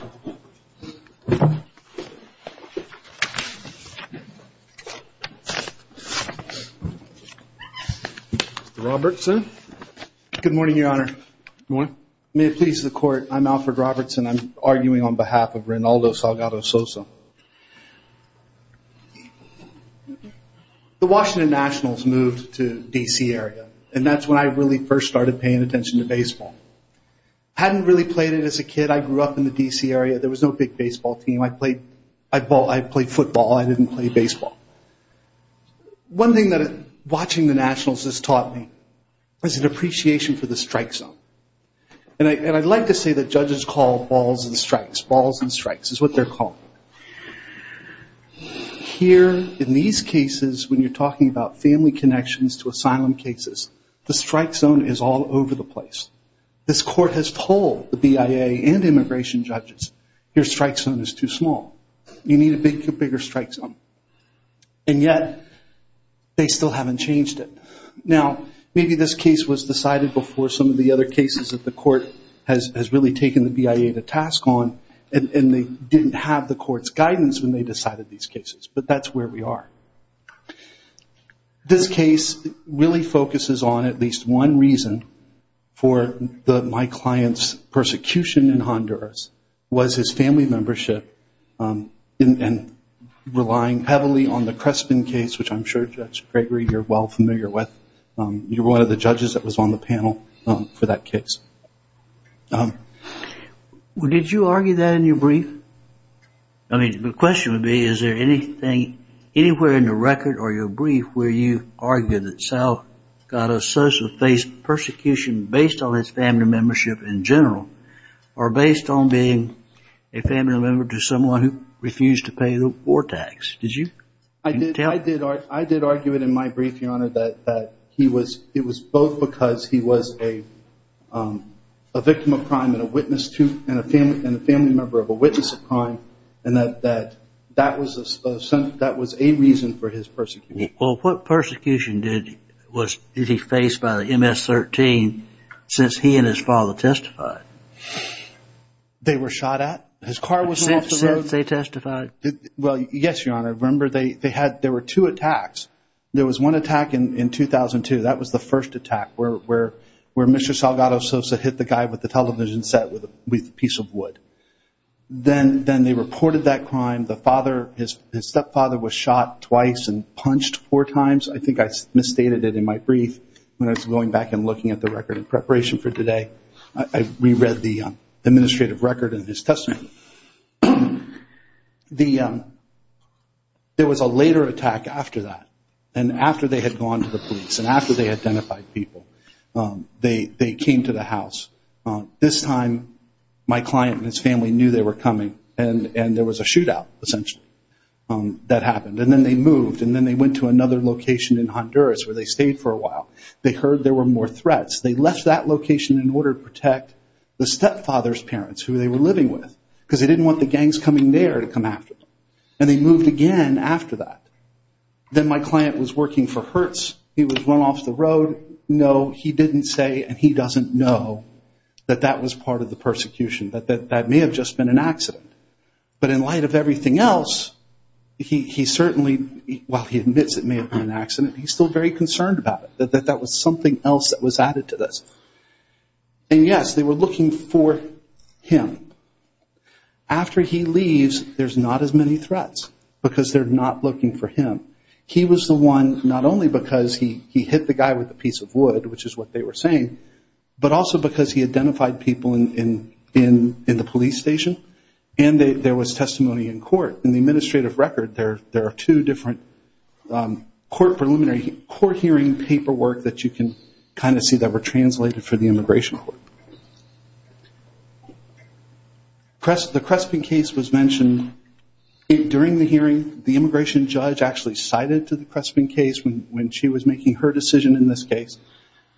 Good morning, Your Honor. May it please the Court, I'm Alfred Robertson. I'm arguing on behalf of Reynaldo Salgado-Sosa. The Washington Nationals moved to the D.C. area, and that's when I really first started paying attention to baseball. I hadn't really played it as a kid. I grew up in the D.C. area. There was no big baseball team. I played football, I didn't play baseball. One thing that watching the Nationals has taught me is an appreciation for the strike zone. And I'd like to say that judges call balls and strikes, balls and strikes is what they're called. Here, in these cases, when you're talking about family connections to asylum cases, the strike zone is all over the place. This Court has told the BIA and immigration judges, your strike zone is too small. You need a bigger strike zone. And yet, they still haven't changed it. Now, maybe this case was decided before some of the other cases that the Court has really taken the BIA to task on, and they didn't have the Court's approval. This case really focuses on at least one reason for my client's persecution in Honduras, was his family membership and relying heavily on the Crespin case, which I'm sure, Judge Gregory, you're well familiar with. You were one of the judges that was on the panel for that case. Well, did you argue that in your brief? I mean, the question would be, is there anything anywhere in the record or your brief where you argue that Sal got a social face persecution based on his family membership in general, or based on being a family member to someone who refused to pay the war tax? Did you tell? I did argue it in my brief, Your Honor, that it was both because he was a victim of crime and a family member of a witness of crime, and that that was a reason for his persecution. Well, what persecution did he face by the MS-13 since he and his father testified? They were shot at? His car wasn't off the road? Since they testified. Well, yes, Your Honor. Remember, there were two attacks. There was one attack in 2002. That was the first attack, where Mr. Salgado Sosa hit the guy with the television set with a piece of wood. Then they reported that crime. The father, his stepfather, was shot twice and punched four times. I think I misstated it in my brief when I was going back and looking at the record in preparation for today. I reread the administrative record in his testimony. There was a later attack after that. After they had gone to the police and after they identified people, they came to the house. This time, my client and his family knew they were coming, and there was a shootout, essentially, that happened. Then they moved, and then they went to another location in Honduras, where they stayed for a while. They heard there were more threats. They left that location in order to protect the stepfather's parents, who they were living with, because they didn't want the gangs coming there to come after them. They moved again after that. Then my client was working for Hertz. He was run off the road. No, he didn't say, and he doesn't know, that that was part of the persecution, that that may have just been an accident. But in light of everything else, he certainly, while he admits it may have been an accident, he's still very concerned about it, that that was something else that was added to this. Yes, they were looking for him. After he leaves, there's not as many threats, because they're not looking for him. He was the one, not only because he hit the guy with a piece of wood, which is what they were saying, but also because he identified people in the police station, and there was testimony in court. In the administrative record, there are two different court preliminary, court hearing paperwork that you can kind of see that were translated for the immigration court. The Crespin case was mentioned during the hearing. The immigration judge actually cited to the Crespin case when she was making her decision in this case.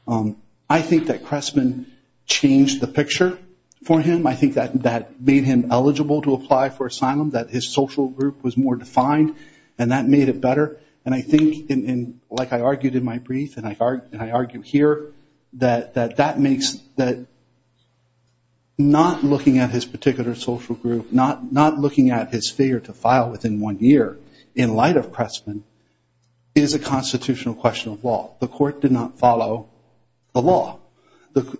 I think that Crespin changed the picture for him. I think that made him eligible to apply for asylum, that his social group was more defined, and that made it better. And I think, like I argued in my brief, and I argue here, that that makes that not looking at his particular social group, not looking at his failure to file within one year in light of Crespin, is a constitutional question of law. The court did not follow the law.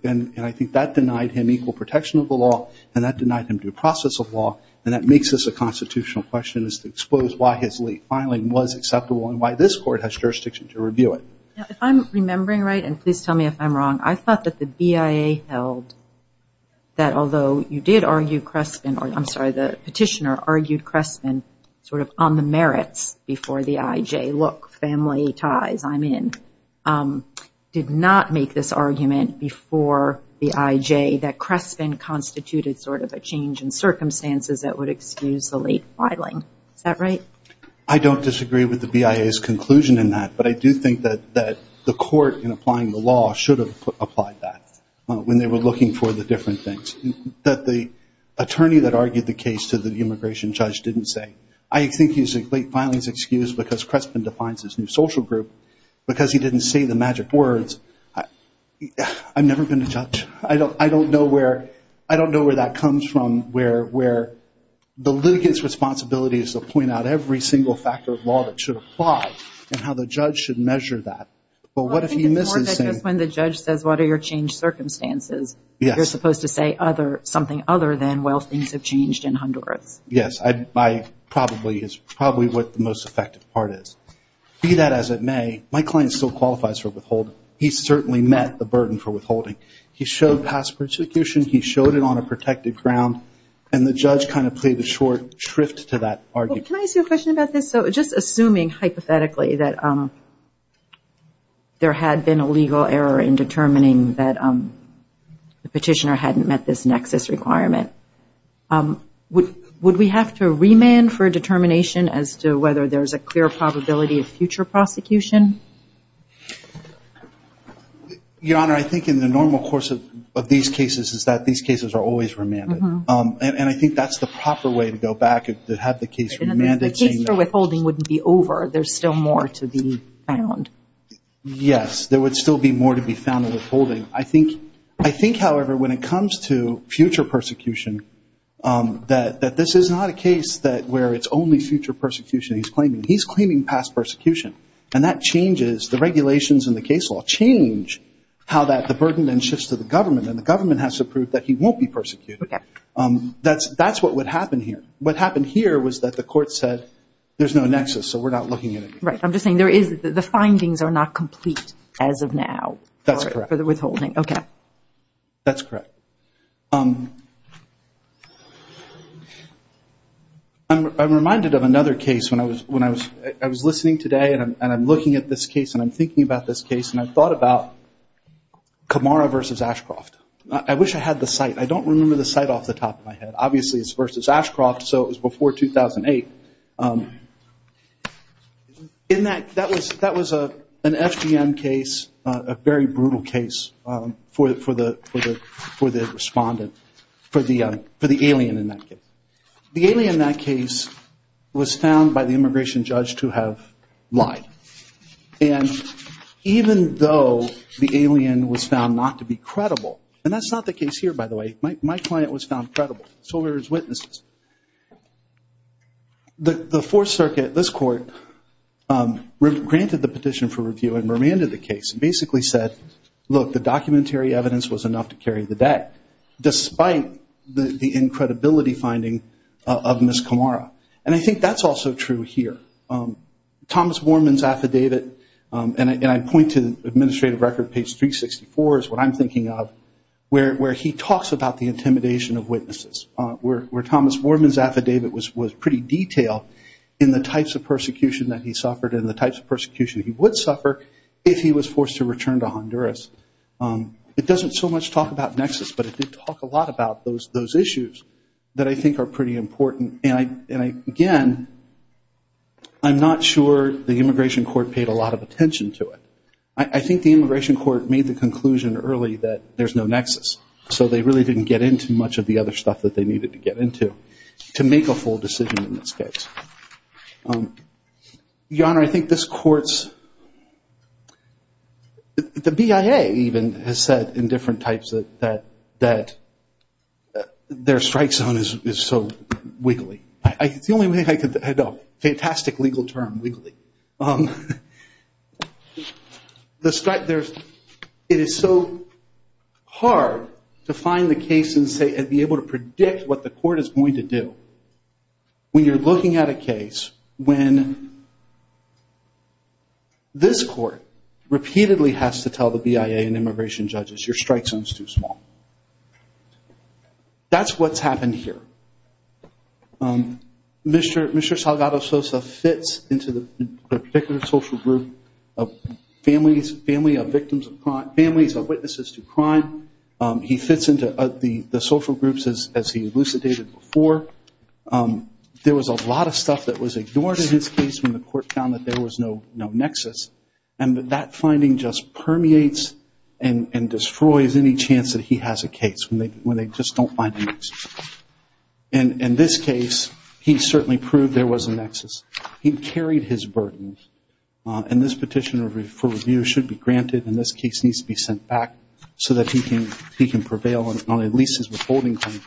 And I think that denied him equal protection of the law, and that denied him due process of law, and that makes this a constitutional question as to expose why his late filing was acceptable and why this court has jurisdiction to review it. If I'm remembering right, and please tell me if I'm wrong, I thought that the BIA held that although you did argue Crespin, or I'm sorry, the petitioner argued Crespin sort of on the merits before the IJ. Look, family ties, I'm in. Did not make this argument before the IJ that Crespin constituted sort of a change in circumstances that would excuse the late filing. Is that right? I don't disagree with the BIA's conclusion in that, but I do think that the court in applying the law should have applied that when they were looking for the different things. That the attorney that argued the case to the immigration judge didn't say, I think he's late filing is excused because Crespin defines his new social group. Because he didn't say the magic words. I'm never going to judge. I don't know where that comes from, where the litigant's responsibility is to point out every single factor of law that should apply, and how the judge should measure that. Well, I think it's more than just when the judge says, what are your changed circumstances? You're supposed to say something other than, well, things have changed in Honduras. Yes, is probably what the most effective part is. Be that as it may, my client is still a judge. He qualifies for withholding. He's certainly met the burden for withholding. He showed past prosecution. He showed it on a protected ground. And the judge kind of played the short shrift to that argument. Can I ask you a question about this? So just assuming hypothetically that there had been a legal error in determining that the petitioner hadn't met this nexus requirement, would we have to remand for a determination as to whether there's a clear probability of future prosecution? Your Honor, I think in the normal course of these cases is that these cases are always remanded. And I think that's the proper way to go back, to have the case remanded. The case for withholding wouldn't be over. There's still more to be found. Yes, there would still be more to be found in withholding. I think, however, when it comes to future persecution, that this is not a case where it's only future persecution he's claiming. He's claiming past persecution. And that changes the regulations in the case law, change how the burden then shifts to the government. And the government has to prove that he won't be persecuted. That's what would happen here. What happened here was that the court said, there's no nexus, so we're not looking at it. Right. I'm just saying the findings are not complete as of now for the withholding. That's correct. I'm reminded of another case when I was listening today and I'm looking at this case and I'm thinking about this case and I thought about Kamara v. Ashcroft. I wish I had the site. I don't remember the site off the top of my head. Obviously, it's v. Ashcroft, so it was before 2008. That was an FGM case, a very brutal case for the government. For the alien in that case. The alien in that case was found by the immigration judge to have lied. And even though the alien was found not to be credible, and that's not the case here, by the way. My client was found credible. So were his witnesses. The Fourth Circuit, this court, granted the petition for review and remanded the case and basically said, look, the documentary evidence was enough to carry the debt, despite the incredibility finding of Ms. Kamara. And I think that's also true here. Thomas Warman's affidavit, and I point to administrative record page 364 is what I'm thinking of, where he talks about the intimidation of witnesses. Where Thomas Warman's affidavit was pretty detailed in the types of persecution that he suffered and the types of persecution he would suffer if he was forced to return to Honduras. It doesn't so much talk about nexus, but it did talk a lot about those issues that I think are pretty important. And again, I'm not sure the immigration court paid a lot of attention to it. I think the immigration court made the conclusion early that there's no nexus. So they really didn't get into much of the other stuff that they needed to get into to make a full decision in this case. Your Honor, I think this court's, the BIA even has said in different types that their strike zone is so wiggly. It's the only way I could, fantastic legal term, wiggly. The strike, it is so hard to find the case and be able to predict what the court is going to do. When you're looking at a case when this court repeatedly has to tell the BIA and immigration judges, your strike zone is too small. That's what's happened here. Mr. Salgado Sosa fits into the particular social group of families, families of victims of war. There was a lot of stuff that was ignored in this case when the court found that there was no nexus. And that finding just permeates and destroys any chance that he has a case when they just don't find a nexus. In this case, he certainly proved there was a nexus. He carried his burden. And this petition for review should be granted and this case needs to be sent back so that he can prevail on at least his withholding claim.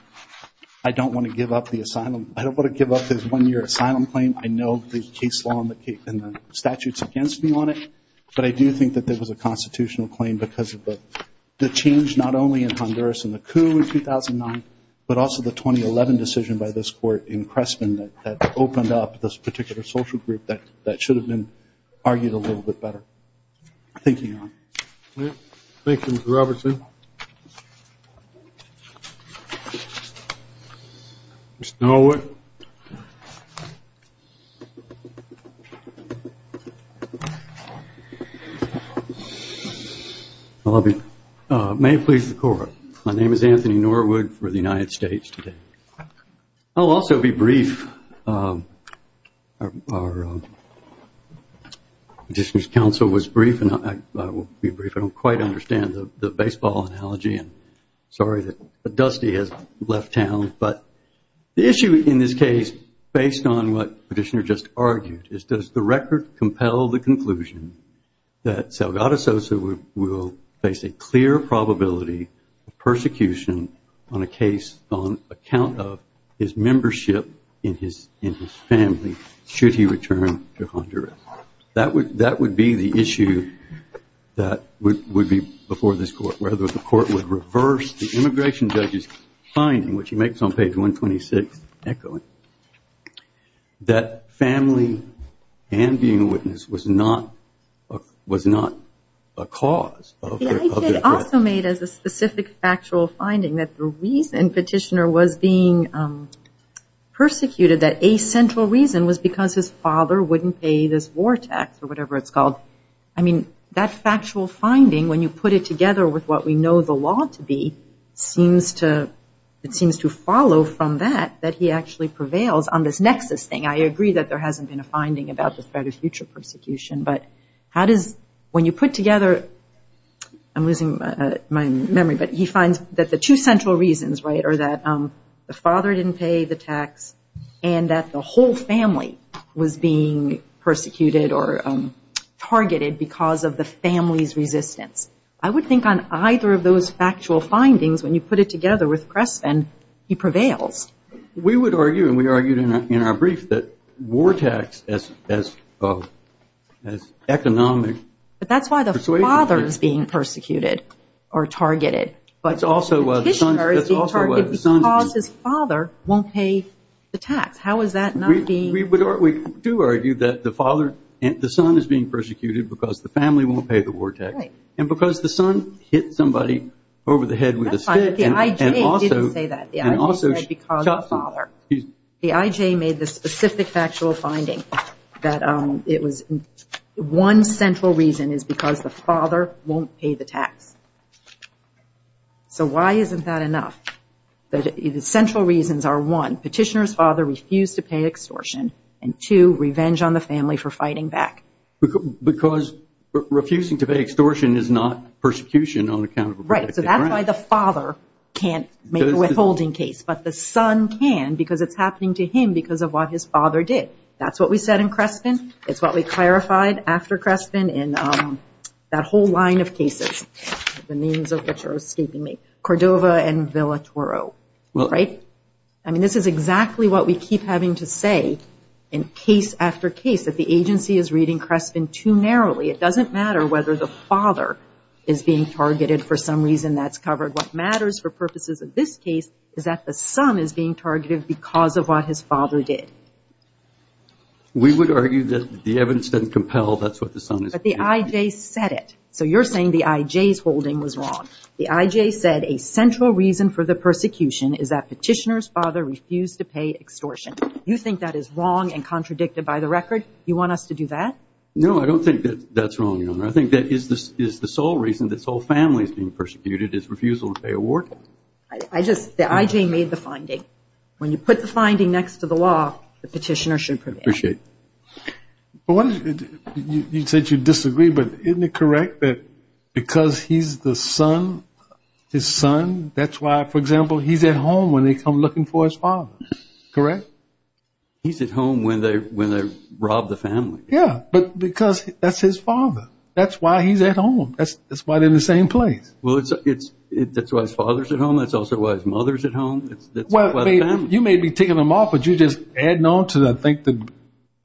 I don't want to give up the asylum. I don't want to give up his one-year asylum claim. I know the case law and the statutes against him on it. But I do think that there was a constitutional claim because of the change not only in Honduras and the coup in 2009, but also the 2011 decision by this court in Crespen that opened up this particular social group that should have been a nexus. Mr. Norwood. May it please the court. My name is Anthony Norwood for the United States today. I will also be brief. Our petitioner's counsel was brief and I will be brief. I don't quite understand the baseball analogy. Sorry that Dusty has left town. But the issue in this case, based on what the petitioner just argued, is does the record compel the conclusion that Salgado Sosa will face a clear probability of persecution on a case on account of his membership in his family should he return to Honduras? That would be the issue that would be before the court, whether the court would reverse the immigration judge's finding, which he makes on page 126, echoing, that family and being a witness was not a cause of the threat. The idea also made as a specific factual finding that the reason petitioner was being persecuted, that a central reason was because his father wouldn't pay this war tax or whatever it's called, together with what we know the law to be, seems to follow from that that he actually prevails on this nexus thing. I agree that there hasn't been a finding about the threat of future persecution, but how does, when you put together, I'm losing my memory, but he finds that the two central reasons, right, are that the father didn't pay the tax and that the whole family was being persecuted or targeted because of the family's resistance. I would think on either of those factual findings, when you put it together with Crespin, he prevails. We would argue, and we argued in our brief, that war tax as economic... But that's why the father is being persecuted or targeted, but the petitioner is being targeted because his father won't pay the tax. How is that not being... We do argue that the son is being persecuted because the family won't pay the war tax, and because the son hit somebody over the head with a stick and also... That's fine. The IJ didn't say that. The IJ said because of the father. The IJ made the specific factual finding that it was one central reason is because the father won't pay the tax. So why isn't that enough? The central reasons are one, petitioner's father refused to pay extortion, and two, revenge on the family. Because refusing to pay extortion is not persecution on account of... Right. So that's why the father can't make a withholding case, but the son can because it's happening to him because of what his father did. That's what we said in Crespin. It's what we clarified after Crespin in that whole line of cases, the names of which are escaping me, Cordova and Villa Toro. This is exactly what we keep having to say in case after case, that the agency is reading clearly. It doesn't matter whether the father is being targeted for some reason. That's covered. What matters for purposes of this case is that the son is being targeted because of what his father did. We would argue that the evidence doesn't compel. That's what the son is... But the IJ said it. So you're saying the IJ's holding was wrong. The IJ said a central reason for the persecution is that petitioner's father refused to pay extortion. You think that is wrong and contradicted by the record? You want us to do that? No, I don't think that's wrong, Your Honor. I think that is the sole reason that this whole family is being persecuted is refusal to pay a ward. I just... The IJ made the finding. When you put the finding next to the law, the petitioner should prevail. Appreciate it. You said you disagree, but isn't it correct that because he's the son, his son, that's why, for example, he's at home when they come looking for his father, correct? He's at home when they rob the family. Yeah, but because that's his father. That's why he's at home. That's why they're in the same place. Well, that's why his father's at home. That's also why his mother's at home. That's why the family... You may be taking them off, but you're just adding on to, I think, the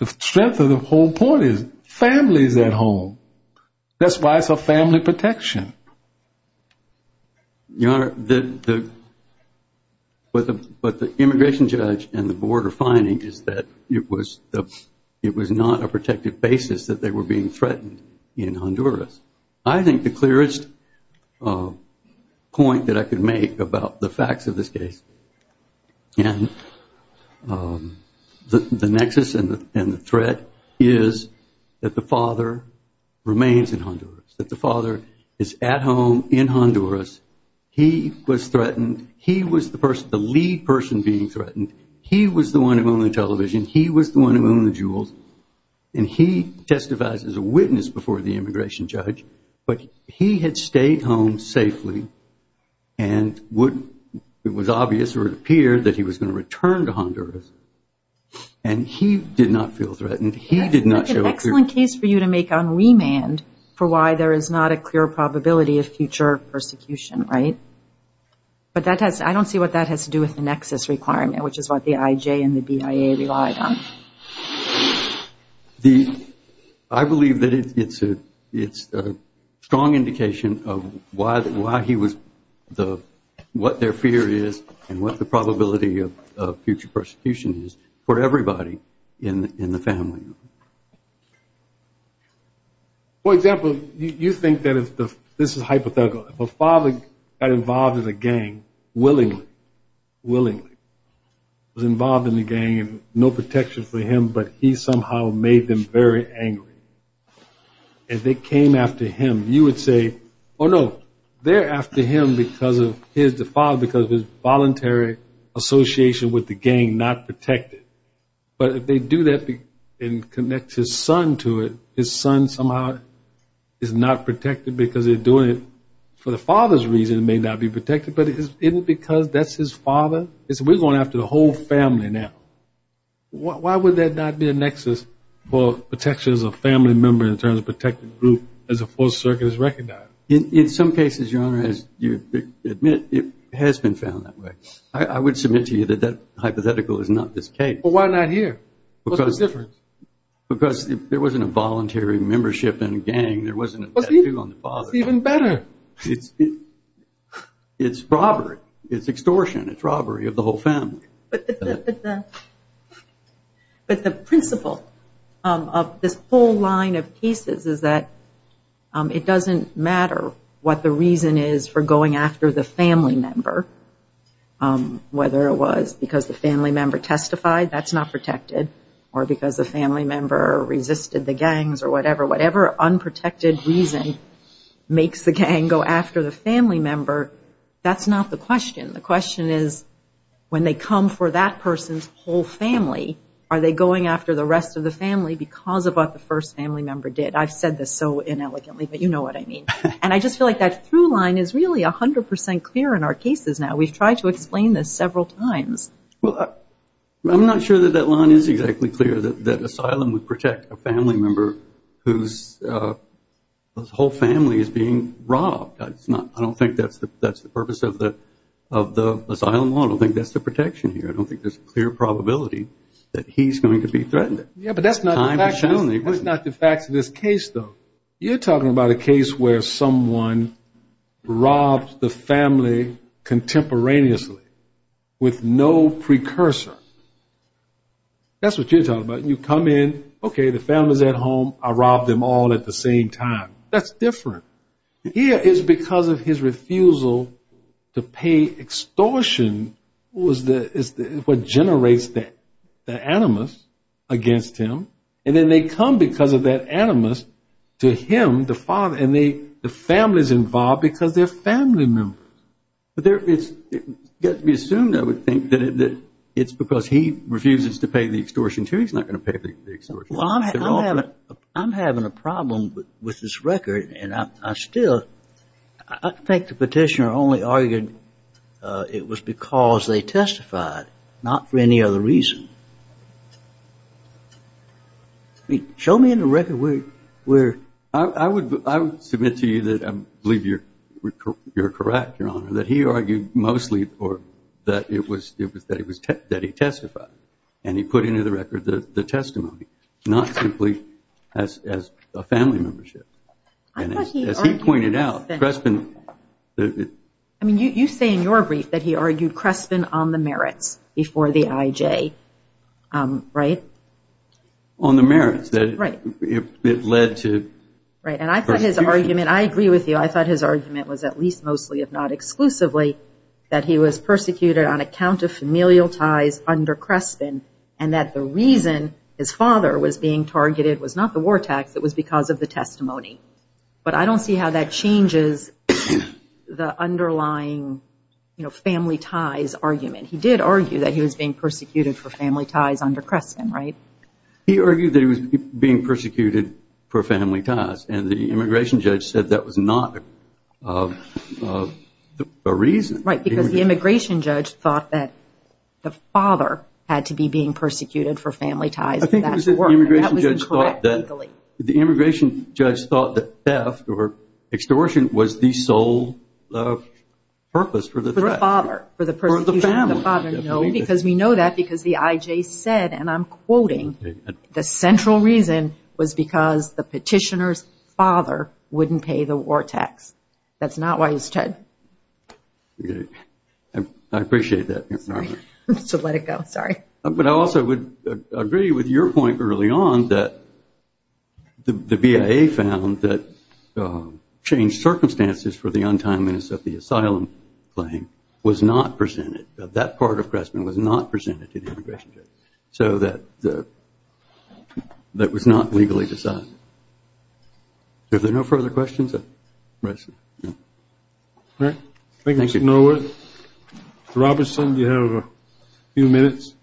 strength of the whole point is family's at home. That's why it's a family protection. Yeah. Your Honor, what the immigration judge and the board are finding is that it was not a protected basis that they were being threatened in Honduras. I think the clearest point that I could make about the facts of this case and the nexus and the threat is that the father remains in Honduras, that the father is at home in Honduras. He was threatened. He was the lead person being threatened. He was the one who owned the television. He was the one who owned the jewels. He testifies as a witness before the immigration judge, but he had stayed home safely and it was obvious or it appeared that he was going to return to Honduras. He did make a remand for why there is not a clear probability of future persecution. I don't see what that has to do with the nexus requirement, which is what the IJ and the BIA relied on. I believe that it's a strong indication of what their fear is and what the probability of future persecution is for everybody in the family. For example, you think that if the father got involved in a gang, willingly, was involved in a gang and no protection for him, but he somehow made them very angry. If they came after him, you would say, oh no, they're after him because of his default, because of his involuntary association with the gang, not protected. But if they do that and connect his son to it, his son somehow is not protected because they're doing it for the father's reason and may not be protected, but it isn't because that's his father. We're going after the whole family now. Why would that not be a nexus for protection as a family member in terms of protecting the group as the Fourth Circuit has recognized? In some cases, Your Honor, as you admit, it has been found that way. I would submit to you that that hypothetical is not the case. Well, why not here? What's the difference? Because there wasn't a voluntary membership in a gang. There wasn't a tattoo on the father. That's even better. It's robbery. It's extortion. It's robbery of the whole family. But the principle of this whole line of cases is that it doesn't matter what the reason is for going after the family member, whether it was because the family member testified, that's not protected, or because the family member resisted the gangs or whatever. Whatever unprotected reason makes the gang go after the family member, that's not the question. The question is, when they come for that person's whole family, are they going after the rest of the family because of what the first family member did? I've said this so inelegantly, but you know what I mean. And I just feel like that through line is really 100 percent clear in our cases now. We've tried to explain this several times. Well, I'm not sure that that line is exactly clear, that asylum would protect a family member whose whole family is being robbed. I don't think that's the purpose of the asylum law. I don't think that's the protection here. I don't think there's a clear probability that he's going to be threatened. Yeah, but that's not the fact of this case, though. You're talking about a case where someone robs the family contemporaneously with no precursor. That's what you're talking about. You come in, okay, the family's at home. I robbed them all at the same time. That's different. Here, it's because of his refusal to pay extortion was what generates the animus against him. And then they come because of that animus to him, the father, and the family's involved because they're family members. But it's got to be assumed, I would think, that it's because he refuses to pay the extortion too. He's not going to pay the extortion. Well, I'm having a problem with this record, and I still, I think the petitioner only argued it was because they testified, not for any other reason. Show me in the record where I would submit to you that I believe you're correct, Your Honor, that he argued mostly or that it was, that he testified. And he put into the record the testimony, not simply as a family membership. And as he pointed out, Crespin, the- I mean, you say in your brief that he argued Crespin on the merits before the IJ, right? On the merits, that it led to- Right, and I thought his argument, I agree with you, I thought his argument was at least mostly, if not exclusively, that he was persecuted on account of familial ties under Crespin and that the reason his father was being targeted was not the war tax, it was because of the testimony. But I don't see how that changes the underlying, you know, family ties argument. He did argue that he was being persecuted for family ties under Crespin, right? He argued that he was being persecuted for family ties, and the immigration judge said that was not a reason. Right, because the immigration judge thought that the father had to be being persecuted for family ties- I think it was the immigration judge thought that the immigration judge thought that theft or extortion was the sole purpose for the- For the father, for the persecution of the father. No, because we know that because the IJ said, and I'm quoting, the central reason was because the petitioner's father wouldn't pay the war tax. That's not why he stood. I appreciate that. Sorry, to let it go, sorry. But I also would agree with your point early on that the BIA found that changed circumstances for the untimeliness of the asylum claim was not presented, that that part of Crespin was not presented to the immigration judge. So that was not legally decided. If there are no further questions, I'll rise to- Thank you, Mr. Norworth. Mr. Robertson, do you have a few minutes?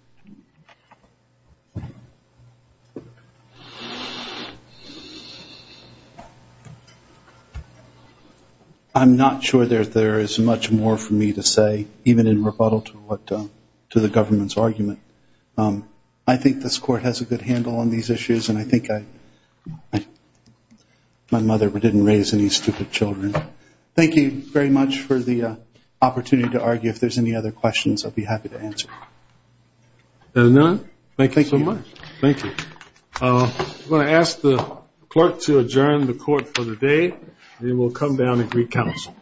I'm not sure that there is much more for me to say, even in rebuttal to the government's issues, and I think I, my mother didn't raise any stupid children. Thank you very much for the opportunity to argue. If there's any other questions, I'll be happy to answer. Is there none? Thank you so much. Thank you. I'm going to ask the clerk to adjourn the court for the day, and then we'll come down and re-counsel.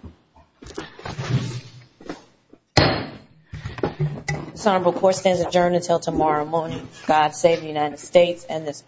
This honorable court stands adjourned until tomorrow morning. God save the United States and this honorable court.